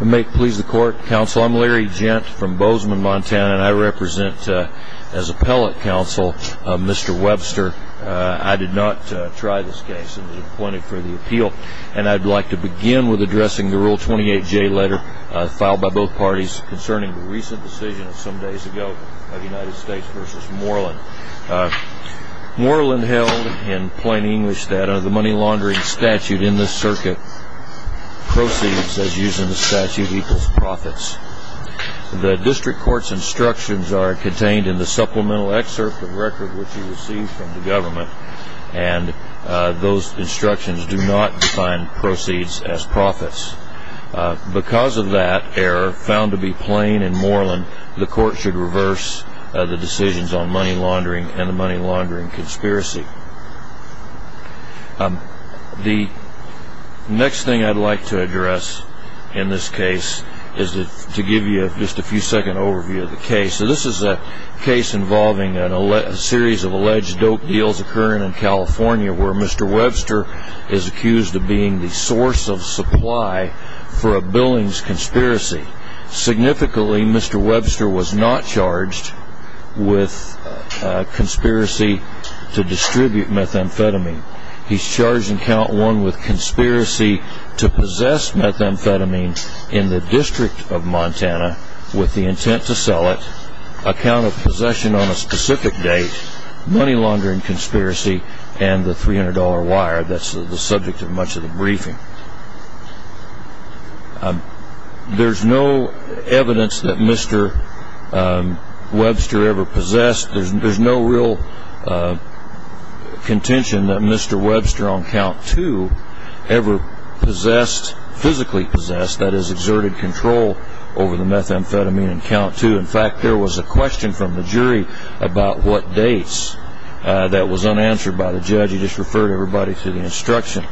May it please the court, counsel. I'm Larry Gent from Bozeman, Montana, and I represent, as appellate counsel, Mr. Webster. I did not try this case and was appointed for the appeal, and I'd like to begin with addressing the Rule 28J letter filed by both parties concerning the recent decision some days ago of United States v. Moreland. Moreland held in plain English that under the money laundering statute in this circuit, proceeds as used in the statute equals profits. The district court's instructions are contained in the supplemental excerpt of record which you received from the government, and those instructions do not define proceeds as profits. Because of that error, found to be plain in Moreland, the court should reverse the decisions on money laundering and the money laundering conspiracy. The next thing I'd like to address in this case is to give you just a few second overview of the case. This is a case involving a series of alleged dope deals occurring in California where Mr. Webster is accused of being the source of supply for a Billings conspiracy. Significantly, Mr. Webster was not charged with conspiracy to distribute methamphetamine. He's charged in count one with conspiracy to possess methamphetamine in the district of Montana with the intent to sell it, a count of possession on a specific date, money laundering conspiracy, and the $300 wire that's the subject of much of the briefing. There's no evidence that Mr. Webster ever possessed. There's no real contention that Mr. Webster on count two ever possessed, physically possessed, that is exerted control over the methamphetamine in count two. In fact, there was a question from the jury about what dates that was unanswered by the judge. He just referred everybody to the instruction.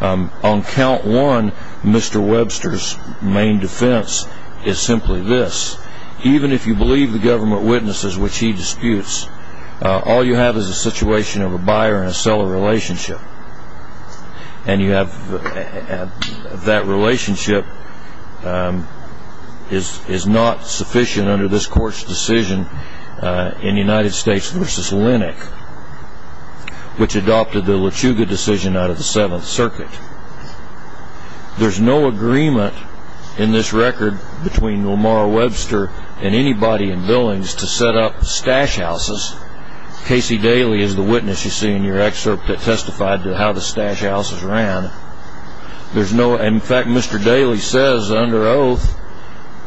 On count one, Mr. Webster's main defense is simply this. Even if you believe the government witnesses which he disputes, all you have is a situation of a buyer and a seller relationship. And that relationship is not sufficient under this court's decision in United States v. Linnick, which adopted the Lechuga decision out of the Seventh Circuit. There's no agreement in this record between Lamar Webster and anybody in Billings to set up stash houses. Casey Daly is the witness you see in your excerpt that testified to how the stash houses ran. In fact, Mr. Daly says under oath,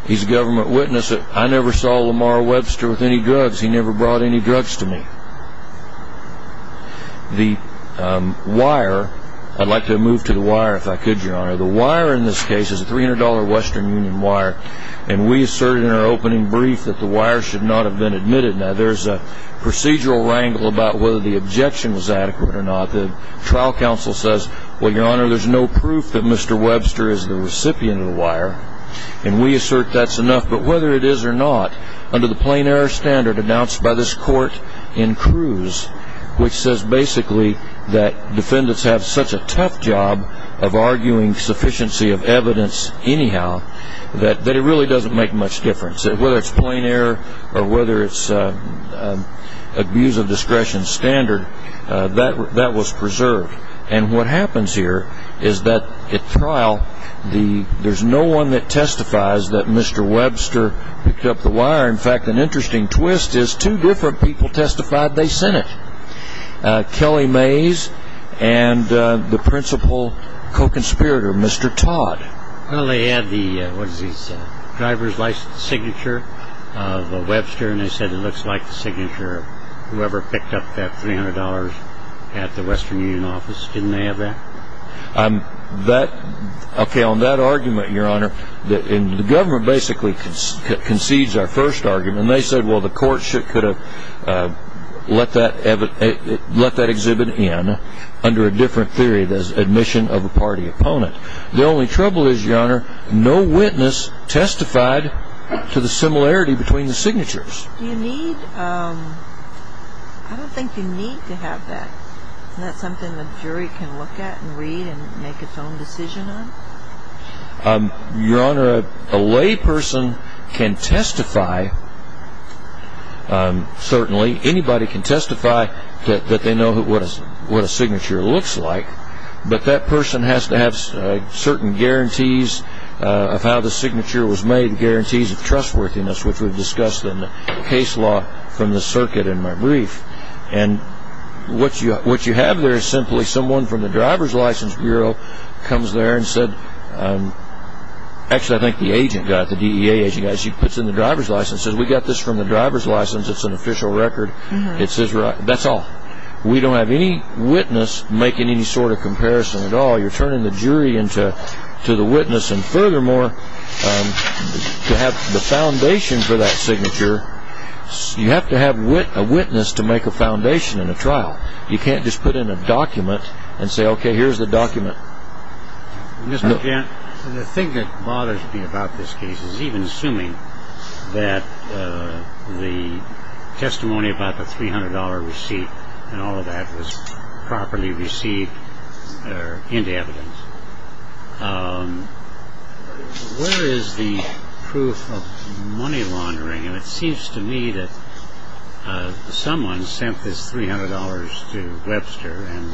he's a government witness, that I never saw Lamar Webster with any drugs. He never brought any drugs to me. The wire, I'd like to move to the wire if I could, Your Honor. The wire in this case is a $300 Western Union wire, and we asserted in our opening brief that the wire should not have been admitted. Now, there's a procedural wrangle about whether the objection was adequate or not. The trial counsel says, well, Your Honor, there's no proof that Mr. Webster is the recipient of the wire, and we assert that's enough. But whether it is or not, under the plain error standard announced by this court in Cruz, which says basically that defendants have such a tough job of arguing sufficiency of evidence anyhow, that it really doesn't make much difference. Whether it's plain error or whether it's abuse of discretion standard, that was preserved. And what happens here is that at trial, there's no one that testifies that Mr. Webster picked up the wire. In fact, an interesting twist is two different people testified they sent it, Kelly Mays and the principal co-conspirator, Mr. Todd. Well, they had the driver's license signature of Webster, and they said it looks like the signature of whoever picked up that $300 at the Western Union office. Didn't they have that? Okay, on that argument, Your Honor, the government basically concedes our first argument, and they said, well, the court could have let that exhibit in under a different theory, the admission of a party opponent. The only trouble is, Your Honor, no witness testified to the similarity between the signatures. I don't think you need to have that. Isn't that something the jury can look at and read and make its own decision on? Your Honor, a lay person can testify, certainly. Anybody can testify that they know what a signature looks like, but that person has to have certain guarantees of how the signature was made, guarantees of trustworthiness, which we've discussed in the case law from the circuit in my brief. And what you have there is simply someone from the driver's license bureau comes there and said, actually, I think the agent got it, the DEA agent got it. She puts in the driver's license and says, we got this from the driver's license. It's an official record. That's all. We don't have any witness making any sort of comparison at all. You're turning the jury into the witness. And furthermore, to have the foundation for that signature, you have to have a witness to make a foundation in a trial. You can't just put in a document and say, okay, here's the document. Mr. Gent, the thing that bothers me about this case is even assuming that the testimony about the $300 receipt and all of that was properly received into evidence, where is the proof of money laundering? And it seems to me that someone sent this $300 to Webster, and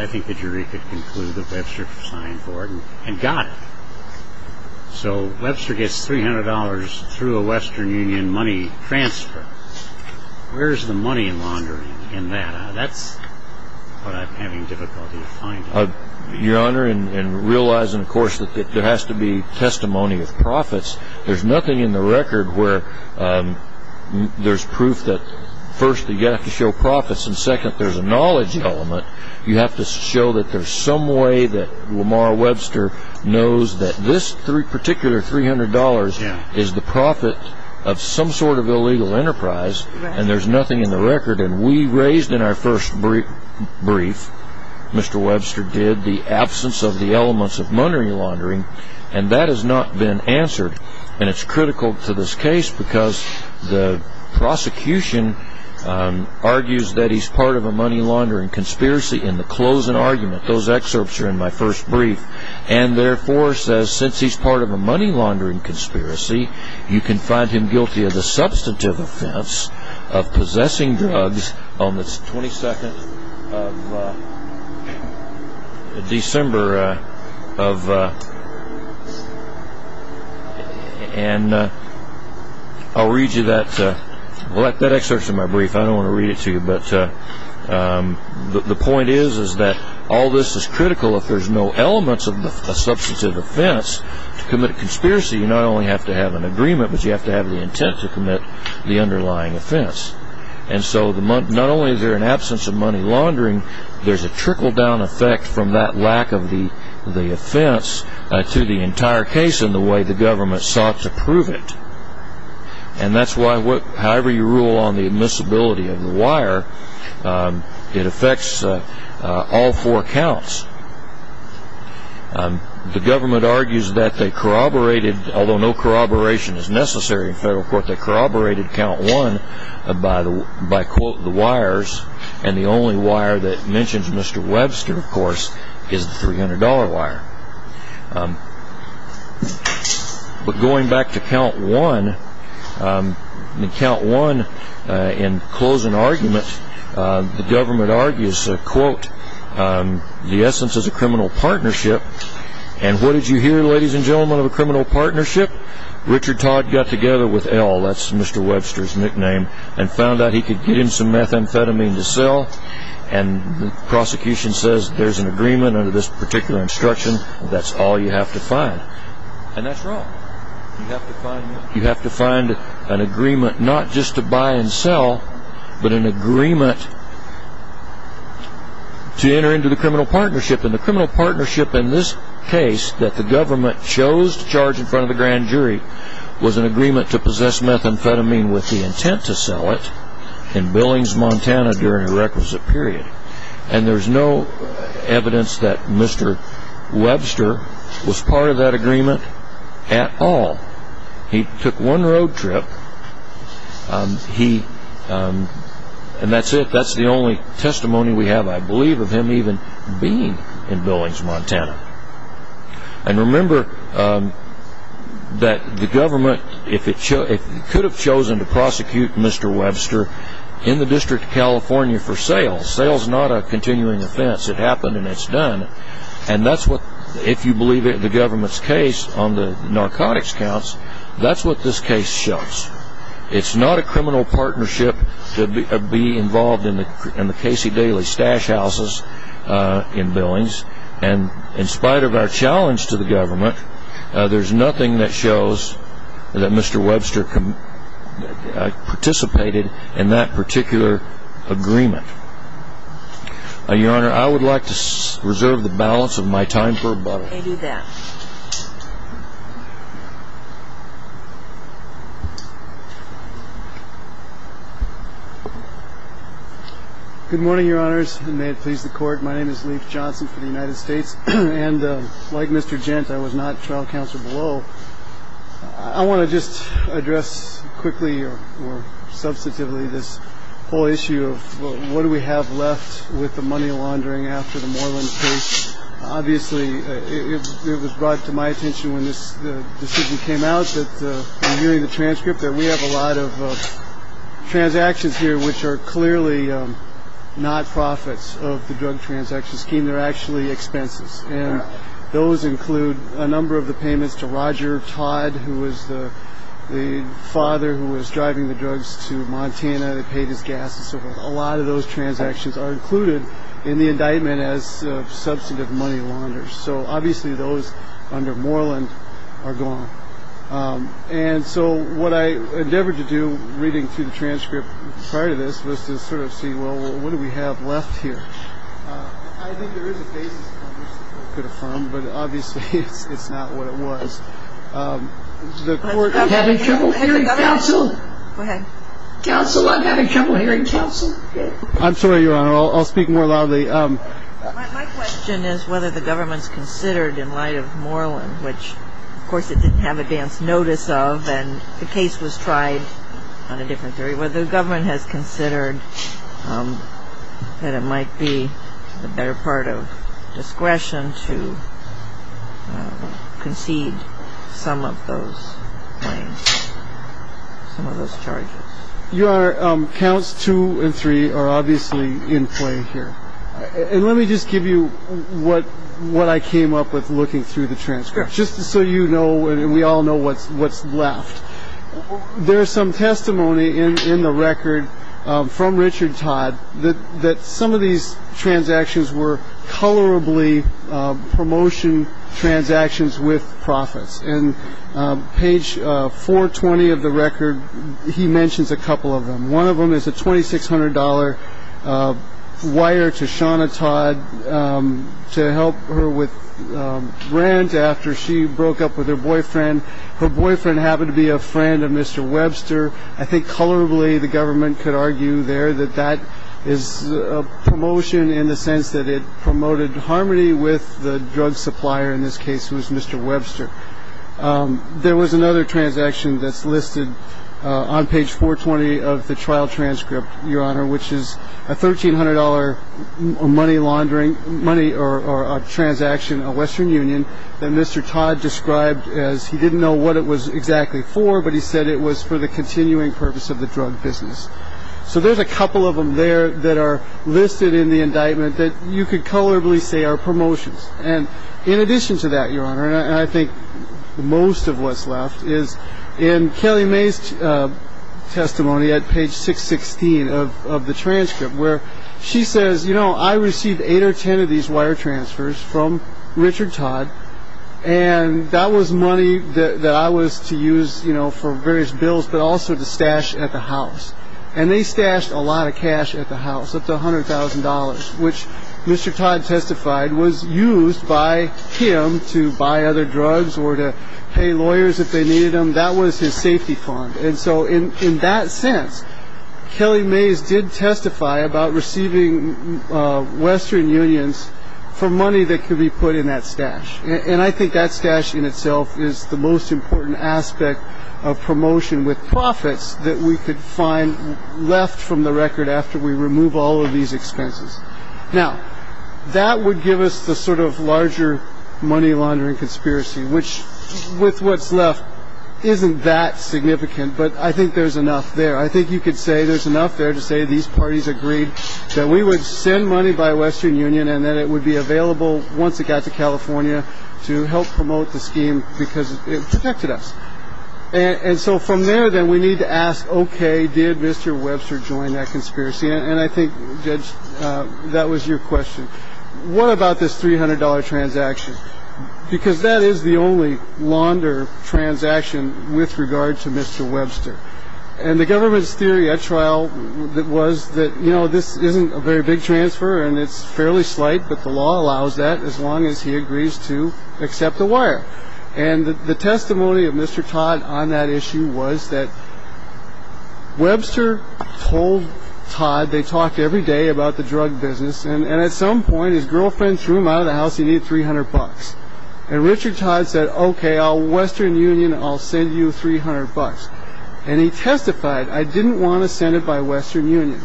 I think the jury could conclude that Webster signed for it and got it. So Webster gets $300 through a Western Union money transfer. Where is the money laundering in that? That's what I'm having difficulty finding. Your Honor, in realizing, of course, that there has to be testimony of profits, there's nothing in the record where there's proof that first you have to show profits and second there's a knowledge element. You have to show that there's some way that Lamar Webster knows that this particular $300 is the profit of some sort of illegal enterprise, and there's nothing in the record. And we raised in our first brief, Mr. Webster did, the absence of the elements of money laundering, and that has not been answered. And it's critical to this case because the prosecution argues that he's part of a money laundering conspiracy in the closing argument, those excerpts are in my first brief, and therefore says since he's part of a money laundering conspiracy, you can find him guilty of the substantive offense of possessing drugs on the 22nd of December of... and I'll read you that excerpt from my brief. I don't want to read it to you, but the point is that all this is critical. If there's no elements of a substantive offense to commit a conspiracy, you not only have to have an agreement, but you have to have the intent to commit the underlying offense. And so not only is there an absence of money laundering, there's a trickle-down effect from that lack of the offense to the entire case and the way the government sought to prove it. And that's why however you rule on the admissibility of the wire, it affects all four counts. The government argues that they corroborated, although no corroboration is necessary in federal court, they corroborated count one by quote, the wires, and the only wire that mentions Mr. Webster, of course, is the $300 wire. But going back to count one, in count one, in closing argument, the government argues, quote, the essence is a criminal partnership, and what did you hear, ladies and gentlemen, of a criminal partnership? Richard Todd got together with L, that's Mr. Webster's nickname, and found out he could get him some methamphetamine to sell, and the prosecution says there's an agreement under this particular instruction, that's all you have to find. And that's wrong. You have to find an agreement not just to buy and sell, but an agreement to enter into the criminal partnership. And the criminal partnership in this case, that the government chose to charge in front of the grand jury, was an agreement to possess methamphetamine with the intent to sell it in Billings, Montana during a requisite period. And there's no evidence that Mr. Webster was part of that agreement at all. He took one road trip, and that's it. That's the only testimony we have, I believe, of him even being in Billings, Montana. And remember that the government, if it could have chosen to prosecute Mr. Webster in the District of California for sale, sale is not a continuing offense. It happened and it's done. And that's what, if you believe the government's case on the narcotics counts, that's what this case shows. It's not a criminal partnership to be involved in the Casey Daily stash houses in Billings. And in spite of our challenge to the government, there's nothing that shows that Mr. Webster participated in that particular agreement. Your Honor, I would like to reserve the balance of my time for rebuttal. I do that. Good morning, Your Honors, and may it please the Court. My name is Leif Johnson for the United States. And like Mr. Gent, I was not trial counsel below. I want to just address quickly or substantively this whole issue of what do we have left with the money laundering after the Moreland case. Obviously, it was brought to my attention when this decision came out that, in viewing the transcript, that we have a lot of transactions here which are clearly not profits of the drug transaction scheme. They're actually expenses. And those include a number of the payments to Roger Todd, who was the father who was driving the drugs to Montana. They paid his gas and so forth. A lot of those transactions are included in the indictment as substantive money launders. So obviously those under Moreland are gone. And so what I endeavored to do, reading through the transcript prior to this, was to sort of see, well, what do we have left here? I think there is a basis in Congress that could affirm, but obviously it's not what it was. The Court of having trouble hearing counsel. Go ahead. Counsel, I'm having trouble hearing counsel. I'm sorry, Your Honor. I'll speak more loudly. My question is whether the government's considered, in light of Moreland, which, of course, it didn't have advance notice of and the case was tried on a different theory, whether the government has considered that it might be a better part of discretion to concede some of those claims, some of those charges. Your Honor, counts two and three are obviously in play here. And let me just give you what I came up with looking through the transcript, just so you know and we all know what's left. There is some testimony in the record from Richard Todd that some of these transactions were colorably promotion transactions with profits. And page 420 of the record, he mentions a couple of them. One of them is a $2,600 wire to Shawna Todd to help her with rent after she broke up with her boyfriend. Her boyfriend happened to be a friend of Mr. Webster. I think colorably the government could argue there that that is a promotion in the sense that it promoted harmony with the drug supplier, in this case it was Mr. Webster. There was another transaction that's listed on page 420 of the trial transcript, Your Honor, which is a $1,300 money laundering, money or a transaction, a Western Union, that Mr. Todd described as he didn't know what it was exactly for, but he said it was for the continuing purpose of the drug business. So there's a couple of them there that are listed in the indictment that you could colorably say are promotions. And in addition to that, Your Honor, and I think most of what's left, is in Kelly May's testimony at page 616 of the transcript where she says, you know, I received eight or ten of these wire transfers from Richard Todd. And that was money that I was to use, you know, for various bills, but also to stash at the house. And they stashed a lot of cash at the house, up to $100,000, which Mr. Todd testified was used by him to buy other drugs or to pay lawyers if they needed them. That was his safety fund. And so in that sense, Kelly Mays did testify about receiving Western Unions for money that could be put in that stash. And I think that stash in itself is the most important aspect of promotion with profits that we could find left from the record after we remove all of these expenses. Now, that would give us the sort of larger money laundering conspiracy, which with what's left isn't that significant, but I think there's enough there. I think you could say there's enough there to say these parties agreed that we would send money by Western Union and that it would be available once it got to California to help promote the scheme because it protected us. And so from there, then we need to ask, OK, did Mr. Webster join that conspiracy? And I think that was your question. What about this three hundred dollar transaction? Because that is the only launder transaction with regard to Mr. Webster. And the government's theory at trial was that, you know, this isn't a very big transfer and it's fairly slight. But the law allows that as long as he agrees to accept the wire. And the testimony of Mr. Todd on that issue was that Webster told Todd they talked every day about the drug business. And at some point, his girlfriend threw him out of the house. He needed three hundred bucks. And Richard Todd said, OK, I'll Western Union. I'll send you three hundred bucks. And he testified, I didn't want to send it by Western Union.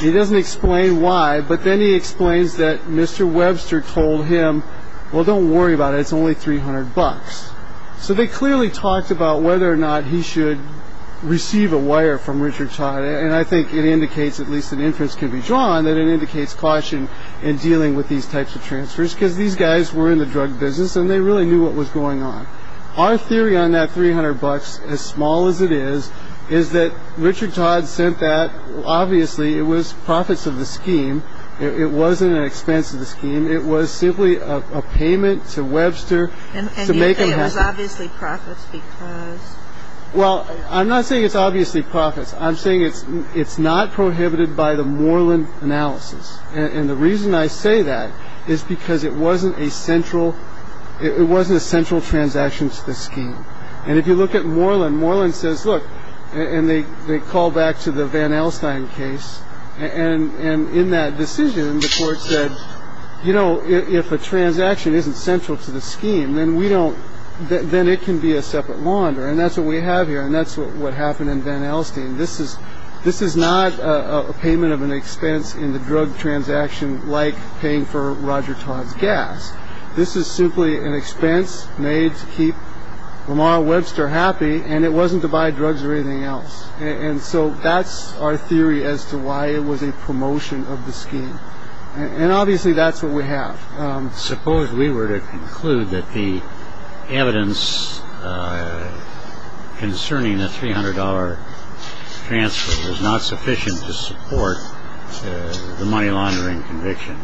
He doesn't explain why, but then he explains that Mr. Webster told him, well, don't worry about it. It's only three hundred bucks. So they clearly talked about whether or not he should receive a wire from Richard Todd. And I think it indicates at least an inference can be drawn that it indicates caution in dealing with these types of transfers, because these guys were in the drug business and they really knew what was going on. Our theory on that three hundred bucks, as small as it is, is that Richard Todd said that obviously it was profits of the scheme. It wasn't an expense of the scheme. It was simply a payment to Webster. And to make it was obviously profits. Well, I'm not saying it's obviously profits. I'm saying it's it's not prohibited by the Moreland analysis. And the reason I say that is because it wasn't a central it wasn't a central transaction to the scheme. And if you look at Moreland, Moreland says, look, and they call back to the Van Alstyne case. And in that decision, the court said, you know, if a transaction isn't central to the scheme, then we don't then it can be a separate launder. And that's what we have here. And that's what happened in Van Alstyne. This is this is not a payment of an expense in the drug transaction, like paying for Roger Todd's gas. This is simply an expense made to keep Lamar Webster happy. And it wasn't to buy drugs or anything else. And so that's our theory as to why it was a promotion of the scheme. And obviously that's what we have. Suppose we were to conclude that the evidence concerning the three hundred dollar transfer is not sufficient to support the money laundering conviction.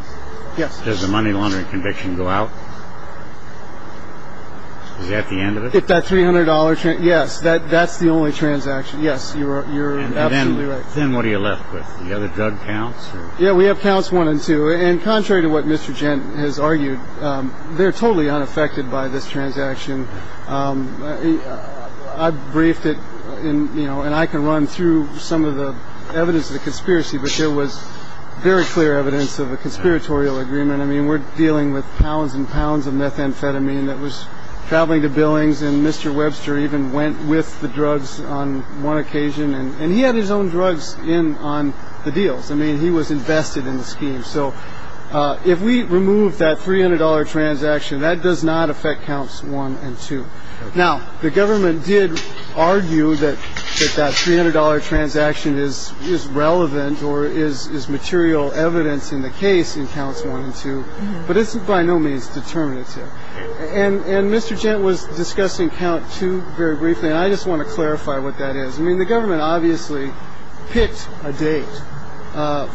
Yes. Does the money laundering conviction go out? Is that the end of it? That three hundred dollars. Yes. That's the only transaction. Yes. You're you're absolutely right. Then what are you left with? The other drug counts. Yeah, we have counts one and two. And contrary to what Mr. Gent has argued, they're totally unaffected by this transaction. I briefed it in, you know, and I can run through some of the evidence of the conspiracy. But there was very clear evidence of a conspiratorial agreement. I mean, we're dealing with pounds and pounds of methamphetamine that was traveling to Billings. And Mr. Webster even went with the drugs on one occasion and he had his own drugs in on the deals. I mean, he was invested in the scheme. So if we remove that three hundred dollar transaction, that does not affect counts one and two. Now, the government did argue that that three hundred dollar transaction is is relevant or is is material evidence in the case in counts one and two. But it's by no means determinative. And Mr. Gent was discussing count two very briefly. And I just want to clarify what that is. I mean, the government obviously picked a date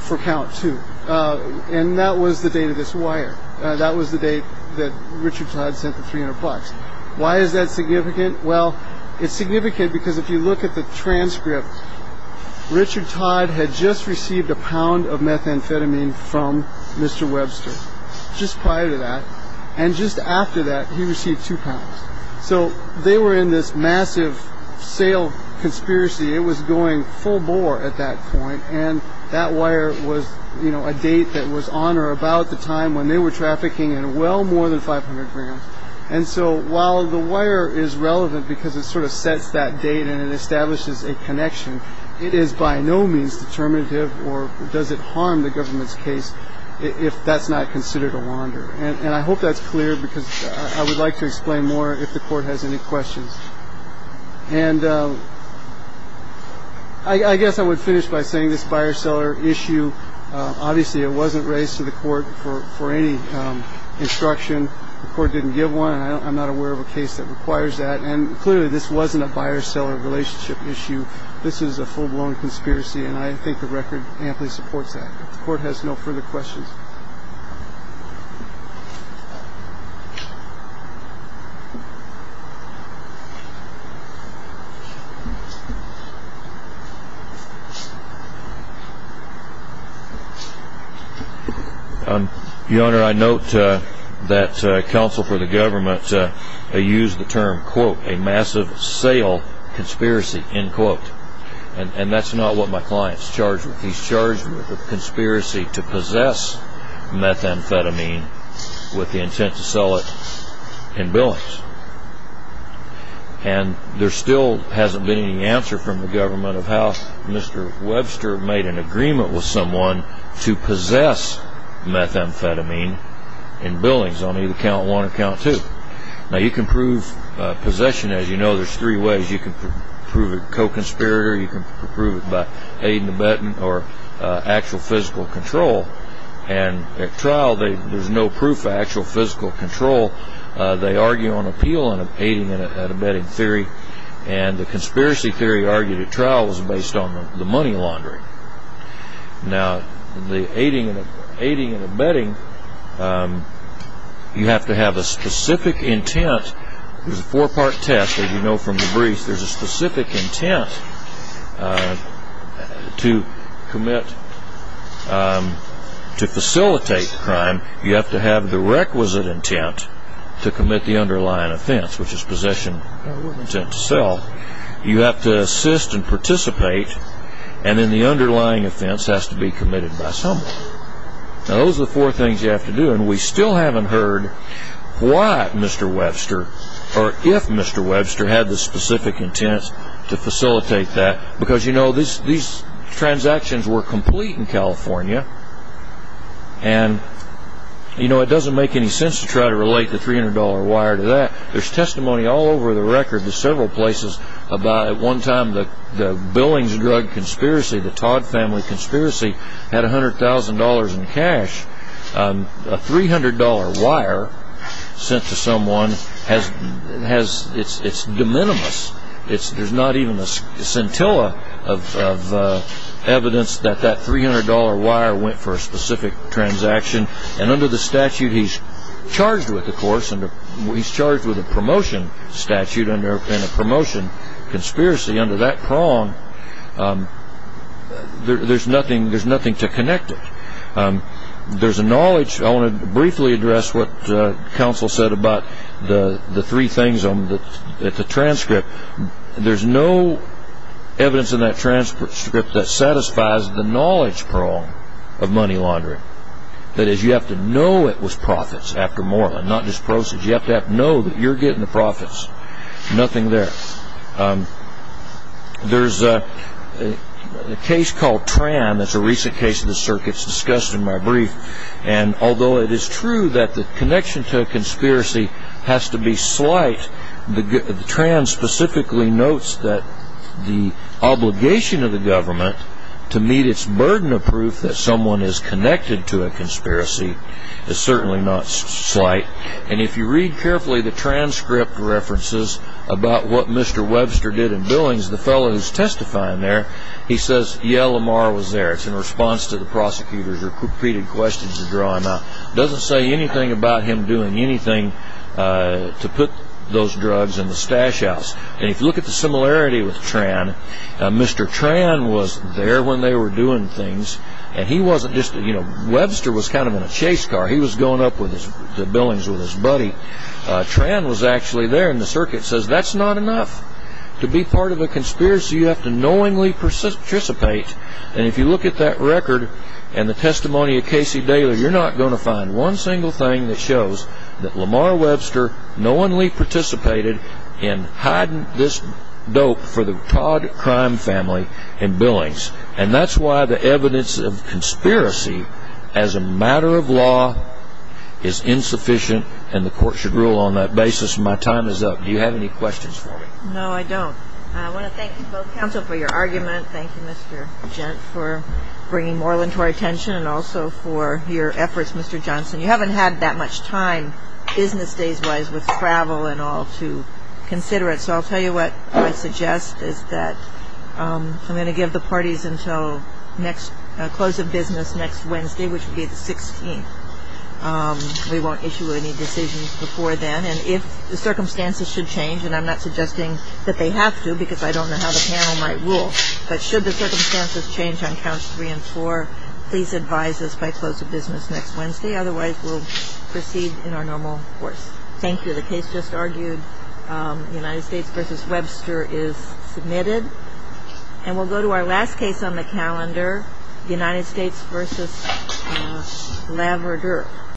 for count two. And that was the date of this wire. That was the date that Richard Todd sent the 300 bucks. Why is that significant? Well, it's significant because if you look at the transcript, Richard Todd had just received a pound of methamphetamine from Mr. Webster just prior to that. And just after that, he received two pounds. So they were in this massive sale conspiracy. It was going full bore at that point. And that wire was a date that was on or about the time when they were trafficking in well more than 500 grams. And so while the wire is relevant because it sort of sets that date and it establishes a connection, it is by no means determinative or does it harm the government's case if that's not considered a wander? And I hope that's clear because I would like to explain more if the court has any questions. And I guess I would finish by saying this buyer seller issue. Obviously, it wasn't raised to the court for for any instruction. The court didn't give one. I'm not aware of a case that requires that. And clearly, this wasn't a buyer seller relationship issue. This is a full blown conspiracy. And I think the record amply supports that. The court has no further questions. Your Honor, I note that counsel for the government used the term, quote, a massive sale conspiracy, end quote. And that's not what my client is charged with. He's charged with a conspiracy to possess methamphetamine with the intent to sell it in billings. And there still hasn't been any answer from the government of how Mr. Webster made an agreement with someone to possess methamphetamine in billings on either count one or count two. Now, you can prove possession. As you know, there's three ways. You can prove it co-conspirator. You can prove it by aid and abetting or actual physical control. And at trial, there's no proof of actual physical control. They argue on appeal and aiding and abetting theory. And the conspiracy theory argued at trial was based on the money laundering. Now, the aiding and abetting, you have to have a specific intent. There's a four-part test that you know from the brief. There's a specific intent to commit, to facilitate crime. You have to have the requisite intent to commit the underlying offense, which is possession of intent to sell. You have to assist and participate. And then the underlying offense has to be committed by someone. Now, those are the four things you have to do. And we still haven't heard why Mr. Webster or if Mr. Webster had the specific intent to facilitate that. Because, you know, these transactions were complete in California. And, you know, it doesn't make any sense to try to relate the $300 wire to that. There's testimony all over the record to several places about at one time the Billings drug conspiracy, the Todd family conspiracy, had $100,000 in cash. A $300 wire sent to someone, it's de minimis. There's not even a scintilla of evidence that that $300 wire went for a specific transaction. And under the statute he's charged with, of course, he's charged with a promotion statute and a promotion conspiracy. Under that prong, there's nothing to connect it. There's a knowledge. I want to briefly address what counsel said about the three things on the transcript. There's no evidence in that transcript that satisfies the knowledge prong of money laundering. That is, you have to know it was profits after more, not just proceeds. You have to know that you're getting the profits. Nothing there. There's a case called Tran. It's a recent case of the circuits discussed in my brief. Although it is true that the connection to a conspiracy has to be slight, Tran specifically notes that the obligation of the government to meet its burden of proof that someone is connected to a conspiracy is certainly not slight. And if you read carefully the transcript references about what Mr. Webster did in Billings, the fellow who's testifying there, he says, It's in response to the prosecutor's repeated questions he's drawing up. It doesn't say anything about him doing anything to put those drugs in the stash house. And if you look at the similarity with Tran, Mr. Tran was there when they were doing things. Webster was kind of in a chase car. He was going up to Billings with his buddy. Tran was actually there, and the circuit says, And if you look at that record and the testimony of Casey Daly, you're not going to find one single thing that shows that Lamar Webster knowingly participated in hiding this dope for the Todd crime family in Billings. And that's why the evidence of conspiracy as a matter of law is insufficient, and the court should rule on that basis. My time is up. Do you have any questions for me? No, I don't. I want to thank you both, counsel, for your argument. Thank you, Mr. Gent, for bringing Moreland to our attention and also for your efforts, Mr. Johnson. You haven't had that much time business days-wise with travel and all to consider it, so I'll tell you what I suggest is that I'm going to give the parties until next close of business next Wednesday, which will be the 16th. We won't issue any decisions before then, and if the circumstances should change, and I'm not suggesting that they have to because I don't know how the panel might rule, but should the circumstances change on counts three and four, please advise us by close of business next Wednesday. Otherwise, we'll proceed in our normal course. Thank you. The case just argued, United States v. Webster, is submitted. And we'll go to our last case on the calendar, United States v. Laverdure.